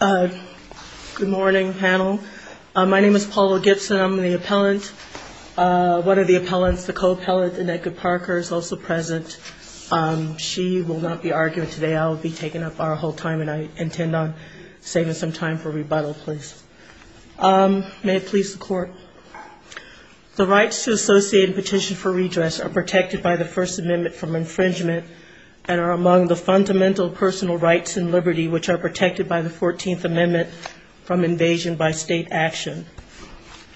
Good morning, panel. My name is Paula Gibson. I'm the appellant. One of the appellants, the co-appellant, Annette Good Parker, is also present. She will not be arguing today. I will be taking up our whole time and I intend on saving some time for rebuttal, please. May it please the Court. The rights to associate and petition for redress are protected by the First Amendment from infringement and are among the fundamental personal rights and liberty which are protected by the 14th Amendment from invasion by state action.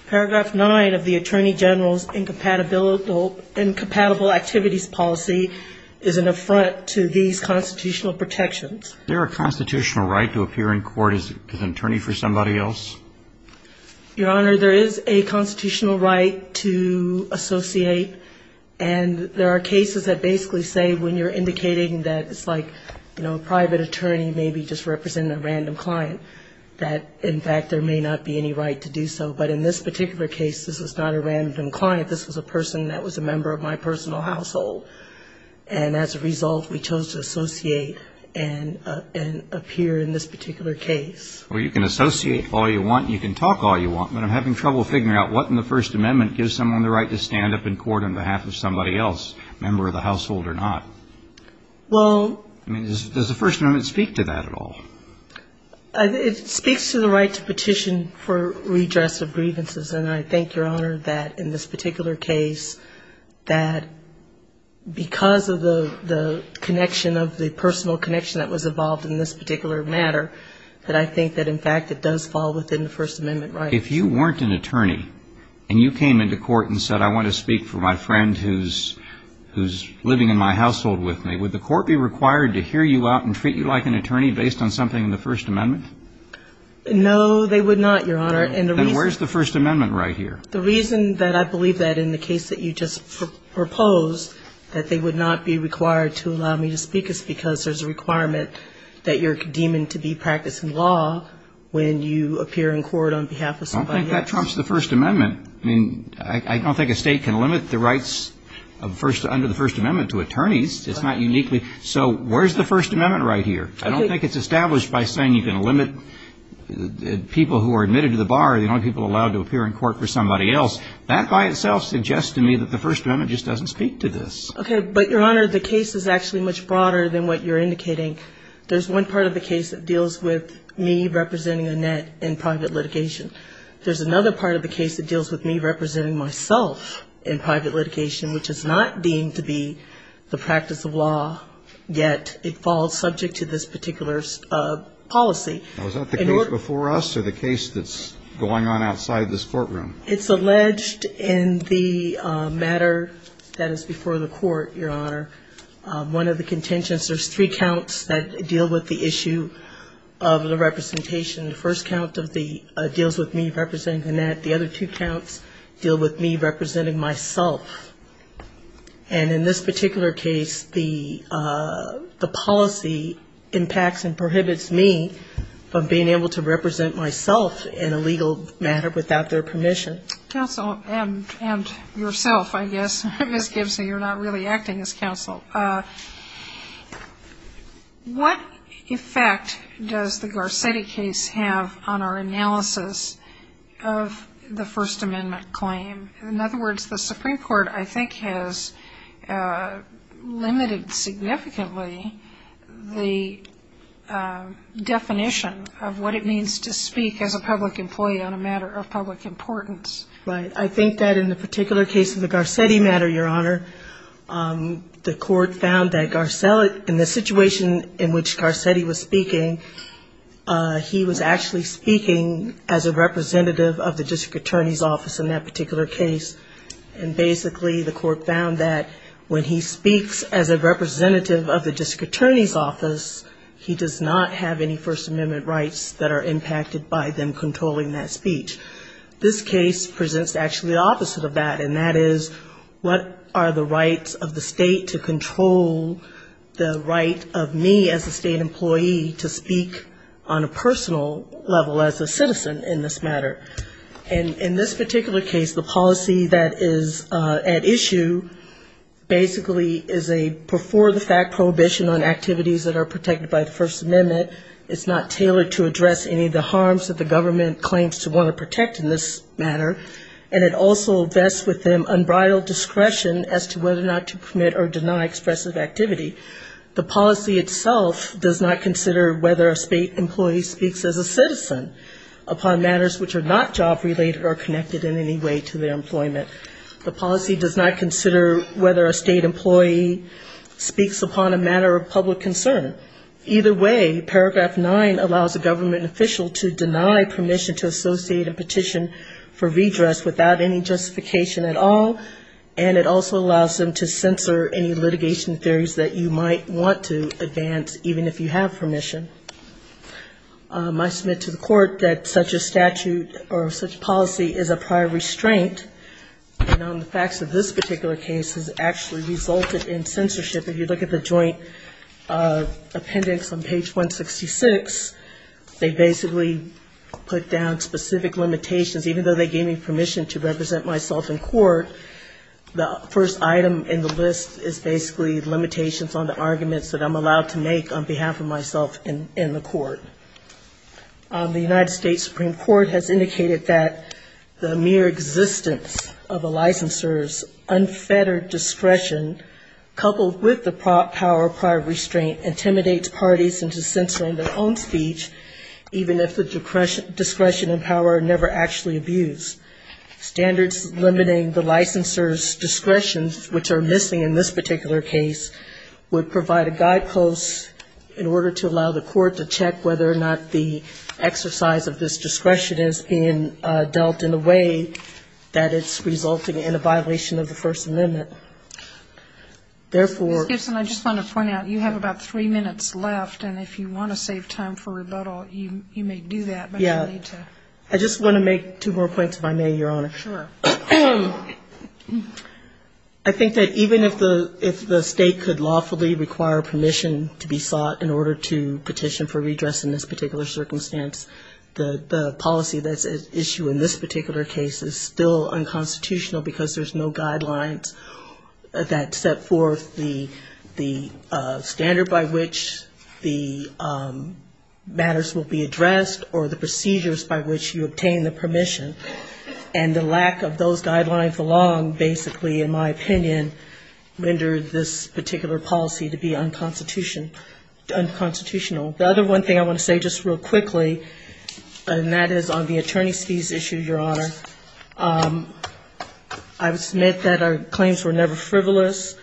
Paragraph 9 of the Attorney General's incompatible activities policy is an affront to these constitutional protections. Is there a constitutional right to appear in court as an attorney for somebody else? Your Honor, there is a constitutional right to associate and there are cases that basically say when you're indicating that it's like, you know, a private attorney maybe just representing a random client, that in fact there may not be any right to do so. But in this particular case, this was not a random client. This was a person that was a member of my personal household. And as a result, we chose to associate and appear in this particular case. Well, you can associate all you want and you can talk all you want, but I'm having trouble figuring out what in the First Amendment gives someone the right to stand up in court on behalf of somebody else, a member of the household or not. Well I mean, does the First Amendment speak to that at all? It speaks to the right to petition for redress of grievances. And I think, Your Honor, that in this particular case, that because of the connection of the personal connection that was involved in this particular matter, that I think that in fact it does fall within the First Amendment right. If you weren't an attorney and you came into court and said, I want to speak for my friend who's living in my household with me, would the court be required to hear you out and treat you like an attorney based on something in the First Amendment? No, they would not, Your Honor. Then where's the First Amendment right here? The reason that I believe that in the case that you just proposed, that they would not be required to allow me to speak is because there's a requirement that you're deeming to be practicing law when you appear in court on behalf of somebody else. I don't think that trumps the First Amendment. I mean, I don't think a state can limit the rights under the First Amendment to attorneys. It's not uniquely. So where's the First Amendment right here? I don't think it's established by saying you can limit people who are admitted to the bar, the only people allowed to appear in court for somebody else. That by itself suggests to me that the First Amendment just doesn't speak to this. Okay. But, Your Honor, the case is actually much broader than what you're indicating. There's one part of the case that deals with me representing Annette in private litigation. There's another part of the case that deals with me representing myself in private litigation, which is not deemed to be the practice of law, yet it falls subject to this particular policy. Now, is that the case before us or the case that's going on outside this courtroom? It's alleged in the matter that is before the court, Your Honor. One of the contentions, there's three counts that deal with the issue of the representation. The first count deals with me representing Annette. The other two counts deal with me representing myself. And in this particular case, the policy impacts and prohibits me from being able to represent myself in a legal matter without their permission. Counsel, and yourself, I guess, Ms. Gibson, you're not really acting as counsel. What effect does the Garcetti case have on our analysis of the First Amendment claim? In other words, the Supreme Court, I think, has limited significantly the definition of what it means to speak as a public employee on a matter of public importance. Right. I think that in the particular case of the Garcetti matter, Your Honor, the court found that Garcelli, in the situation in which Garcetti was speaking, he was actually speaking as a representative of the district attorney's office in that particular case, and basically the court found that when he speaks as a representative of the district attorney's office, he does not have any First Amendment rights that are impacted by them controlling that speech. This case presents actually the opposite of that, and that is, what are the rights of the state to control the right of me as a state employee to speak on a personal level as a citizen in this matter? And in this particular case, the policy that is at issue basically is a before-the-fact prohibition on activities that are protected by the First Amendment. It's not tailored to address any of the harms that the government claims to want to protect in this matter, and it also vests with them unbridled discretion as to whether or not to permit or deny expressive activity. The policy does not consider whether a state employee speaks as a citizen upon matters which are not job-related or connected in any way to their employment. The policy does not consider whether a state employee speaks upon a matter of public concern. Either way, paragraph nine allows a government official to deny permission to associate a petition for redress without any justification at all, and it also allows them to censor any litigation theories that you might want to advance, even if you have permission. I submit to the court that such a statute or such policy is a prior restraint, and on the facts of this particular case has actually resulted in censorship. If you look at the joint appendix on page 166, they basically put down specific limitations. Even though they gave me permission to represent myself in court, the first item in the list is basically limitations on the arguments that I'm making in this particular case. The United States Supreme Court has indicated that the mere existence of a licensor's unfettered discretion, coupled with the power of prior restraint, intimidates parties into censoring their own speech, even if the discretion and power never actually abuse. Standards limiting the licensor's discretion, which are missing in this particular case, would provide a guidepost in order to allow the court to decide whether or not the exercise of this discretion is being dealt in a way that it's resulting in a violation of the First Amendment. Therefore ‑‑ Ms. Gibson, I just want to point out, you have about three minutes left, and if you want to save time for rebuttal, you may do that. Yeah. I just want to make two more points, if I may, Your Honor. Sure. I think that even if the state could lawfully require permission to be sought in order to petition for redress in this particular circumstance, the policy that's at issue in this particular case is still unconstitutional, because there's no guidelines that set forth the standard by which the matters will be addressed or the procedures by which you obtain the permission. And the lack of those guidelines along, basically, in my opinion, rendered this particular policy to be unconstitutional. The other one thing I want to say just real quickly, and that is on the attorney's fees issue, Your Honor, I would submit that our claims were never frivolous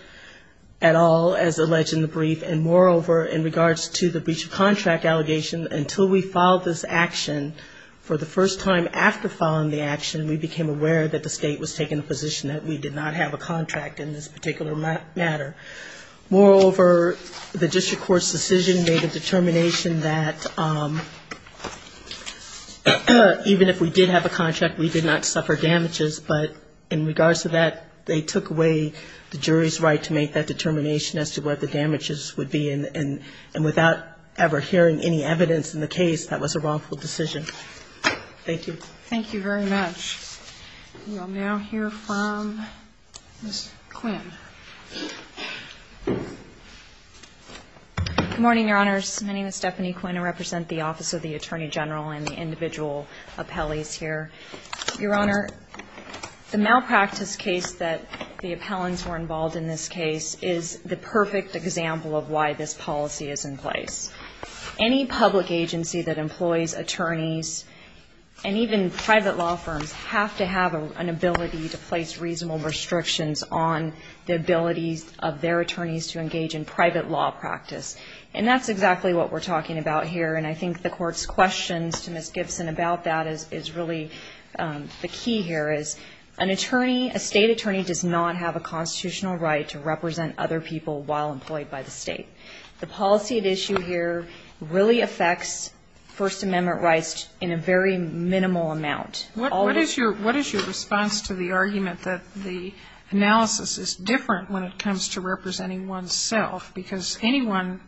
at all as alleged in the brief, and moreover, in regards to the breach of contract allegation, until we filed this action for the first time after filing the action, we became aware that the state was taking the position that we did not have a contract in this particular matter. Moreover, the district court's decision made a determination that even if we did have a contract, we did not suffer damages, but in regards to that, they took away the jury's right to make that determination as to what the damages would be, and without ever hearing any evidence in the case, that was a wrongful decision. Thank you. Thank you very much. We will now hear from Ms. Quinn. Good morning, Your Honors. My name is Stephanie Quinn. I represent the Office of the Attorney General and the individual appellees here. Your Honor, the malpractice case that the appellants were involved in this case is the perfect example of why this policy is in place. Any public agency that employs attorneys, and even private law firms, have to have an ability to place reasonable restrictions on the ability of their attorneys to engage in private law practice. And that's exactly what we're talking about here, and I think the Court's questions to Ms. Gibson about that is really the key here, is an attorney, a state attorney, does not have a capacity to do that. So the policy at issue here really affects First Amendment rights in a very minimal amount. What is your response to the argument that the analysis is different when it comes to representing oneself, because anyone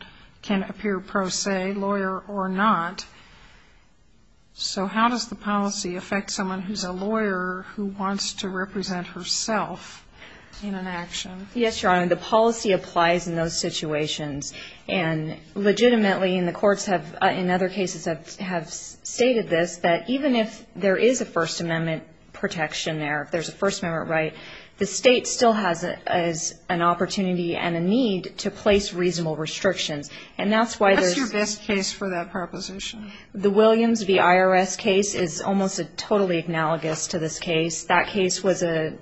can appear pro se, lawyer or not, so how does the policy affect someone who's a lawyer who wants to represent herself in an action? Yes, Your Honor, the policy applies in those situations. And legitimately, and the courts have in other cases have stated this, that even if there is a First Amendment protection there, if there's a First Amendment right, the state still has an opportunity and a need to place reasonable restrictions. And that's why there's... What's your best case for that proposition? The Williams v. IRS case is almost totally analogous to this case. That case was an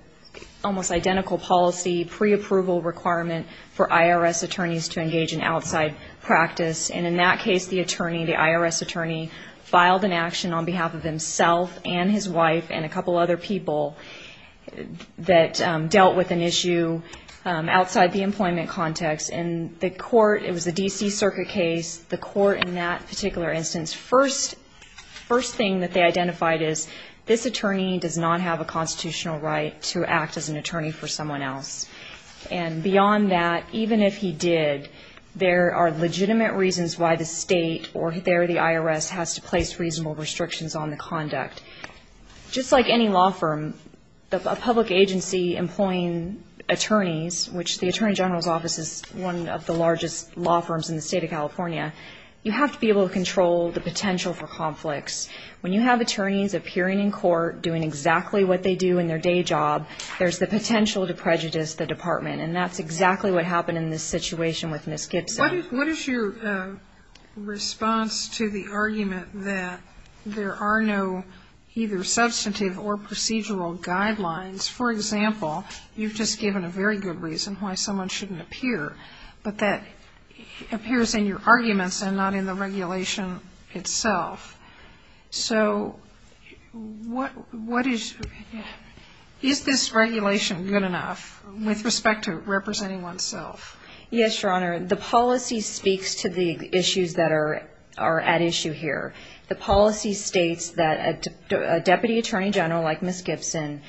almost identical policy, preapproval requirement for IRS attorneys to engage in outside practice. And in that case, the attorney, the IRS attorney, filed an action on behalf of himself and his wife and a couple other people that dealt with an issue outside the employment context. And the court, it was a D.C. Circuit case, the court in that particular instance, first thing that they identified is, this attorney does not have a constitutional right to act as an attorney for someone else. And beyond that, even if he did, there are legitimate reasons why the state or there the IRS has to place reasonable restrictions on the conduct. Just like any law firm, a public agency employing attorneys, which the Attorney General's Office is one of the most largest law firms in the state of California, you have to be able to control the potential for conflicts. When you have attorneys appearing in court doing exactly what they do in their day job, there's the potential to prejudice the department. And that's exactly what happened in this situation with Ms. Gibson. What is your response to the argument that there are no either substantive or procedural guidelines? For example, you've just said that there are no substantive guidelines, but that appears in your arguments and not in the regulation itself. So what is, is this regulation good enough with respect to representing oneself? Yes, Your Honor. The policy speaks to the issues that are at issue here. The policy states that a Deputy Attorney General like Ms. Gibson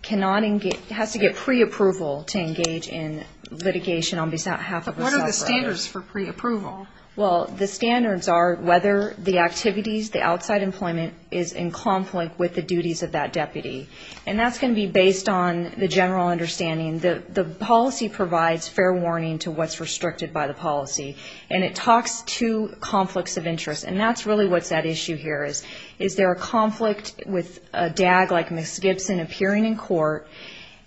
cannot engage, has to get pre-approval to engage in litigation on behalf of Ms. Gibson. And that's what the policy says. But what are the standards for pre-approval? Well, the standards are whether the activities, the outside employment is in conflict with the duties of that deputy. And that's going to be based on the general understanding. The policy provides fair warning to what's restricted by the policy. And it talks to conflicts of interest. And that's really what's at issue here is, is there a conflict with a DAG like Ms. Gibson appearing in court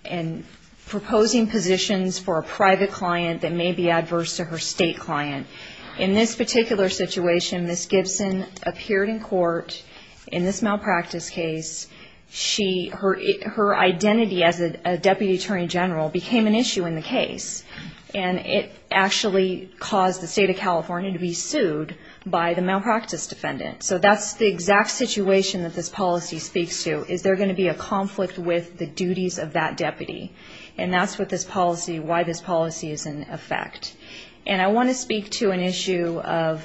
and proposing positions for a private client that may be out of office? And that's really what's at issue here. And Ms. Gibson is not going to be adverse to her state client. In this particular situation, Ms. Gibson appeared in court in this malpractice case. Her identity as a Deputy Attorney General became an issue in the case. And it actually caused the State of California to be sued by the malpractice defendant. So that's the exact situation that this policy speaks to. Is there going to be a conflict with the duties of that deputy? And that's what this policy, why this policy is in effect. And I want to speak to an issue of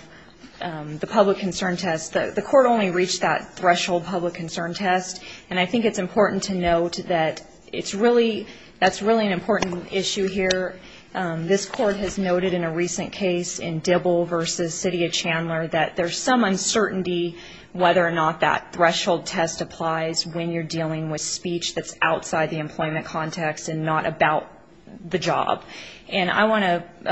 the public concern test. The court only reached that threshold public concern test. And I think it's important to note that it's really, that's really an important issue here. This court has noted in a recent case in Dibble v. City of Chandler that there's some uncertainty whether or not that threshold test applies when you're dealing with speech that's outside the employment context and not about the job. And I want to speak to that issue of the public concern test. And I want to speak to that issue of the public concern test. And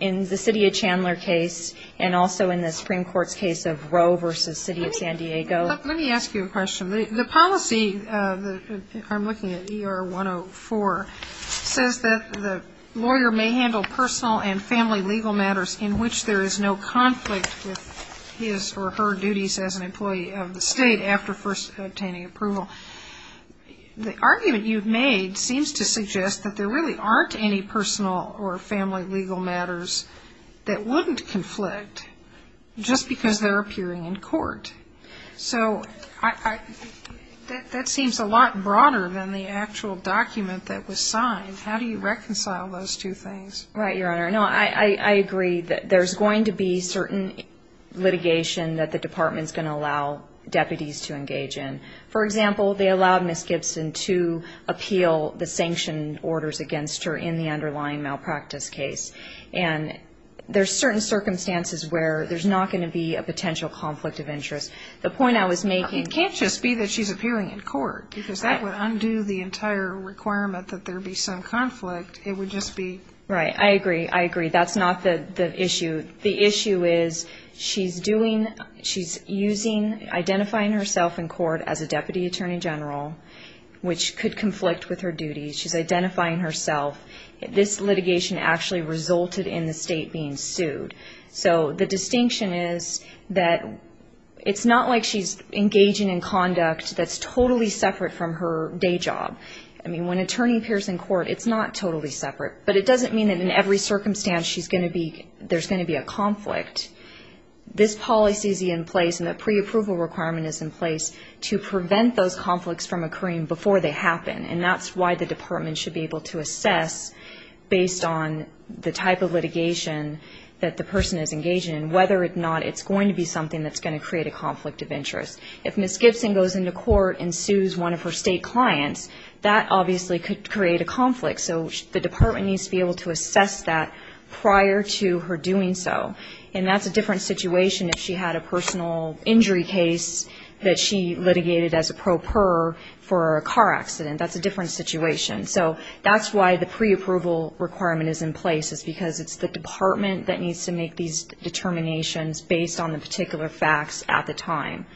in the City of Chandler case and also in the Supreme Court's case of Roe v. City of San Diego. Let me ask you a question. The policy, if I'm looking at ER 104, says that the lawyer may handle personal and family legal matters in which there is no conflict with his or her duties as an employee of the state after first obtaining approval. The argument you've made seems to suggest that there really aren't any personal or family legal matters in which there is no conflict with his or her duties as an employee of the state after first obtaining approval. There's no personal or family legal matters that wouldn't conflict just because they're appearing in court. So that seems a lot broader than the actual document that was signed. How do you reconcile those two things? Right, Your Honor. No, I agree that there's going to be certain litigation that the department's going to allow deputies to engage in. For example, they allowed Ms. Gibson to appeal the sanctioned orders against her in the underlying malpractice case. And there's certain circumstances where there's not going to be a potential conflict of interest. The point I was making... It can't just be that she's appearing in court, because that would undo the entire requirement that there be some conflict. It would just be... Right. I agree. I agree. That's not the issue. The issue is she's doing, she's using, identifying herself in court as a deputy attorney general, which could conflict with her duties. She's identifying herself. This litigation actually resulted in the state being sued. So the distinction is that it's not like she's engaging in conduct that's totally separate from her day job. I mean, when an attorney appears in court, it's not totally separate. But it doesn't mean that in every circumstance she's going to be, there's going to be a conflict. This policy is in place and the preapproval requirement is in place to prevent those conflicts from occurring before they happen. And that's why the department should be able to assess, based on the type of litigation that the person is engaging in, whether or not it's going to be something that's going to create a conflict of interest. If Ms. Gibson goes into court and sues one of her state clients, that obviously could create a conflict. So the department needs to be able to assess that prior to her doing so. And that's a different situation if she had a personal injury case that she litigated as a pro per for a car accident. That's a different situation. So that's why the preapproval requirement is in place, is because it's the department that needs to make these determinations based on the particular facts at the time.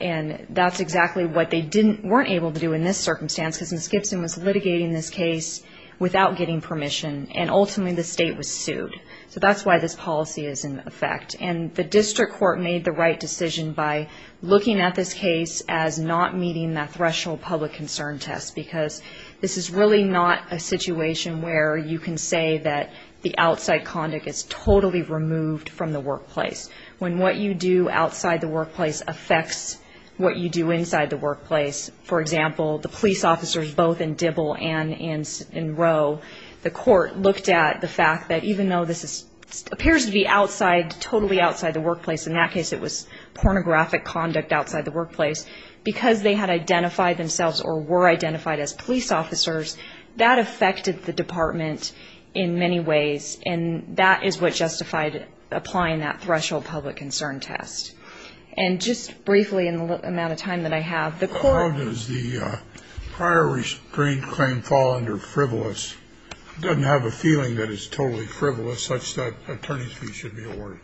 And that's exactly what they weren't able to do in this circumstance, because Ms. Gibson was litigating this case without getting permission, and ultimately the state was sued. So that's why this policy is in effect. And the district court made the right decision by looking at this case as not meeting that threshold public concern test, because this is really not a situation where you can say that the outside conduct is totally removed from the workplace. When what you do outside the workplace affects what you do inside the workplace, for example, the police officers both in Dibble and in Rowe, the court looked at the fact that even though this appears to be totally outside the workplace, in that case it was pornographic conduct outside the workplace, because they had identified themselves or were identified as police officers, that affected the department in many ways, and that is what justified applying that threshold public concern test. And just briefly in the amount of time that I have, the court... It doesn't have a feeling that it's totally frivolous, such that attorney's fee should be awarded.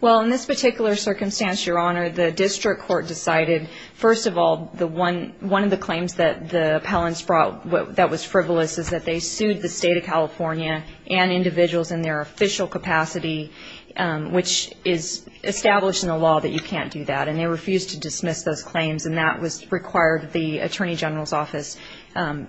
Well, in this particular circumstance, Your Honor, the district court decided, first of all, one of the claims that the appellants brought that was frivolous is that they sued the state of California and individuals in their official capacity, which is established in the law that you can't do that. And they refused to dismiss those claims, and that required the attorney general's office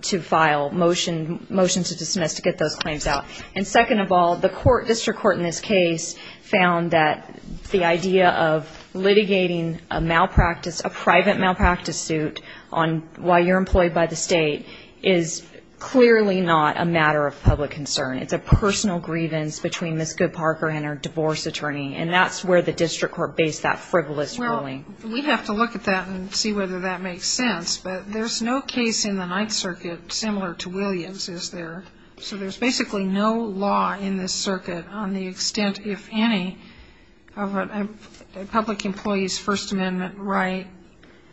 to file a motion to dismiss those claims. And second of all, the district court in this case found that the idea of litigating a private malpractice suit while you're employed by the state is clearly not a matter of public concern. It's a personal grievance between Ms. Good Parker and her divorce attorney, and that's where the district court based that frivolous ruling. Well, we'd have to look at that and see whether that makes sense, but there's no case in the Ninth Circuit similar to Williams, is there? So there's basically no law in this circuit on the extent, if any, of a public employee's First Amendment right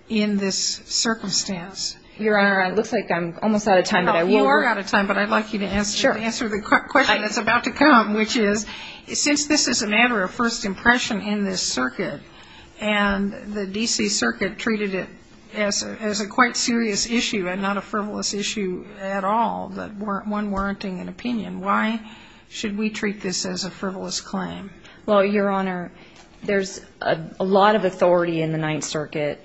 in this circumstance. Your Honor, it looks like I'm almost out of time, but I will work. No, you are out of time, but I'd like you to answer the question that's about to come, which is, since this is a matter of first impression in this circuit, and the D.C. Circuit treated it as a quite serious issue and not a frivolous issue at all, that one warranty would be required. Why should we treat this as a frivolous claim? Well, Your Honor, there's a lot of authority in the Ninth Circuit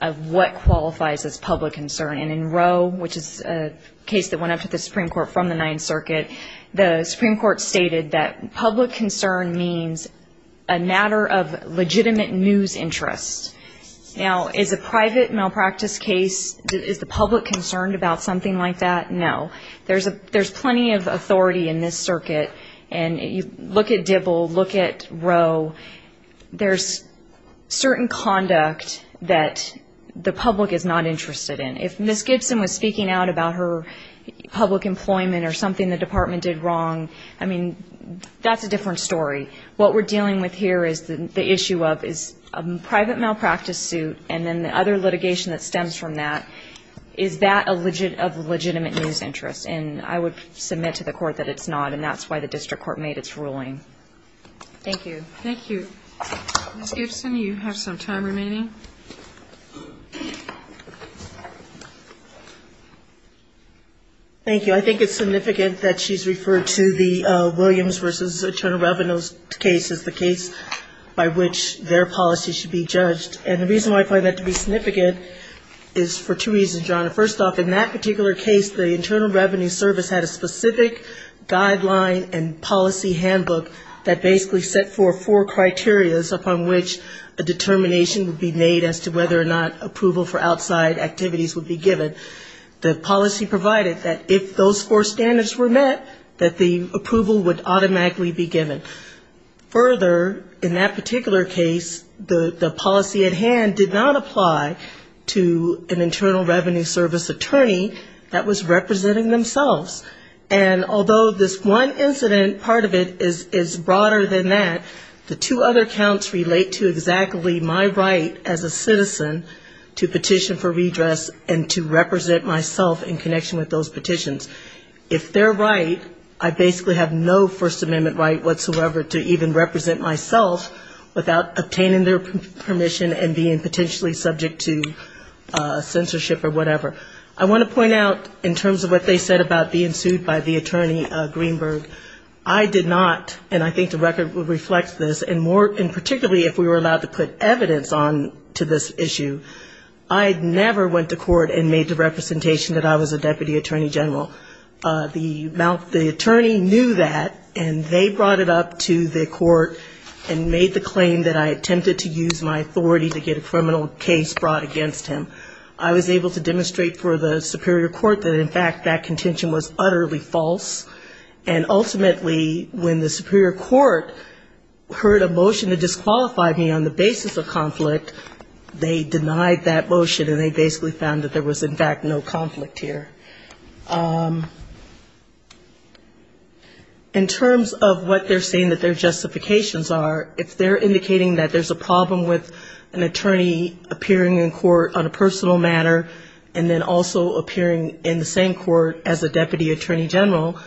of what qualifies as public concern, and in Roe, which is a case that went up to the Supreme Court from the Ninth Circuit, the Supreme Court stated that public concern means a matter of legitimate news interest. Now, is a private malpractice case, is the public concerned about something like that? No. There's plenty of authority in this circuit, and you look at Dibble, look at Roe, there's certain conduct that the public is not interested in. If Ms. Gibson was speaking out about her public employment or something the department did wrong, I mean, that's a different story. What we're dealing with here is the issue of, is a private malpractice suit, and then the other litigation that stems from that, is that of legitimate news interest? And I would submit to the court that it's not, and that's why the district court made its ruling. Thank you. Thank you. I think it's significant that she's referred to the Williams v. Attorney Reveno's case as the case by which their policy should be judged. And the reason why I find that to be significant is for two reasons, Your Honor. The Internal Revenue Service had a specific guideline and policy handbook that basically set forth four criterias upon which a determination would be made as to whether or not approval for outside activities would be given. The policy provided that if those four standards were met, that the approval would automatically be given. Further, in that particular case, the policy at hand did not apply to an Internal Revenue Service attorney that was represented by the district court. And although this one incident, part of it, is broader than that, the two other counts relate to exactly my right as a citizen to petition for redress and to represent myself in connection with those petitions. If they're right, I basically have no First Amendment right whatsoever to even represent myself without obtaining their permission and being potentially subject to censorship or whatever. I want to point out in terms of what they said about being sued by the attorney Greenberg, I did not, and I think the record would reflect this, and particularly if we were allowed to put evidence on to this issue, I never went to court and made the representation that I was a deputy attorney general. The attorney knew that, and they brought it up to the court and made the claim that I attempted to use my authority to get a criminal case brought against him. I was able to demonstrate for the superior court that, in fact, that contention was utterly false. And ultimately, when the superior court heard a motion to disqualify me on the basis of conflict, they denied that motion, and they basically found that there was, in fact, no conflict here. In terms of what they're saying that their justifications are, if they're indicating that there's a problem with an attorney appearing in court on a personal matter and then also appearing in the same court as a deputy attorney general,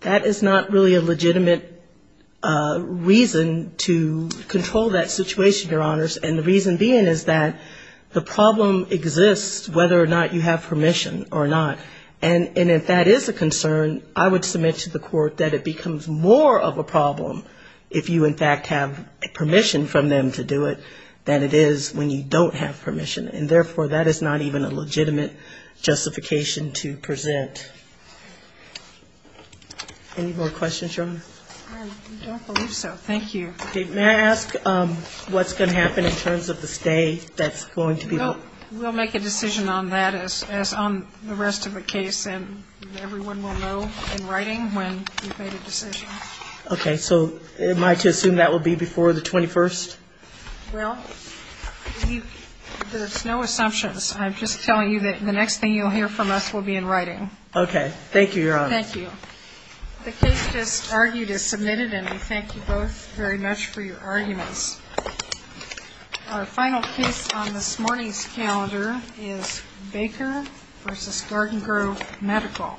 that is not really a legitimate reason to control that situation, Your Honors, and the reason being is that the problem exists whether or not you have permission or not. And if that is a concern, I would submit to the court that it becomes more of a problem if you, in fact, have permission from them to do it than it is when you don't have permission, and, therefore, that is not even a legitimate justification to present. Any more questions, Your Honor? I don't believe so. Thank you. May I ask what's going to happen in terms of the stay that's going to be held? We'll make a decision on that as on the rest of the case, and everyone will know in writing when we've made a decision. There's no assumptions. I'm just telling you that the next thing you'll hear from us will be in writing. Okay. Thank you, Your Honor. Thank you. The case just argued is submitted, and we thank you both very much for your arguments. Our final case on this morning's calendar is Baker v. Garden Grove Medical. Thank you.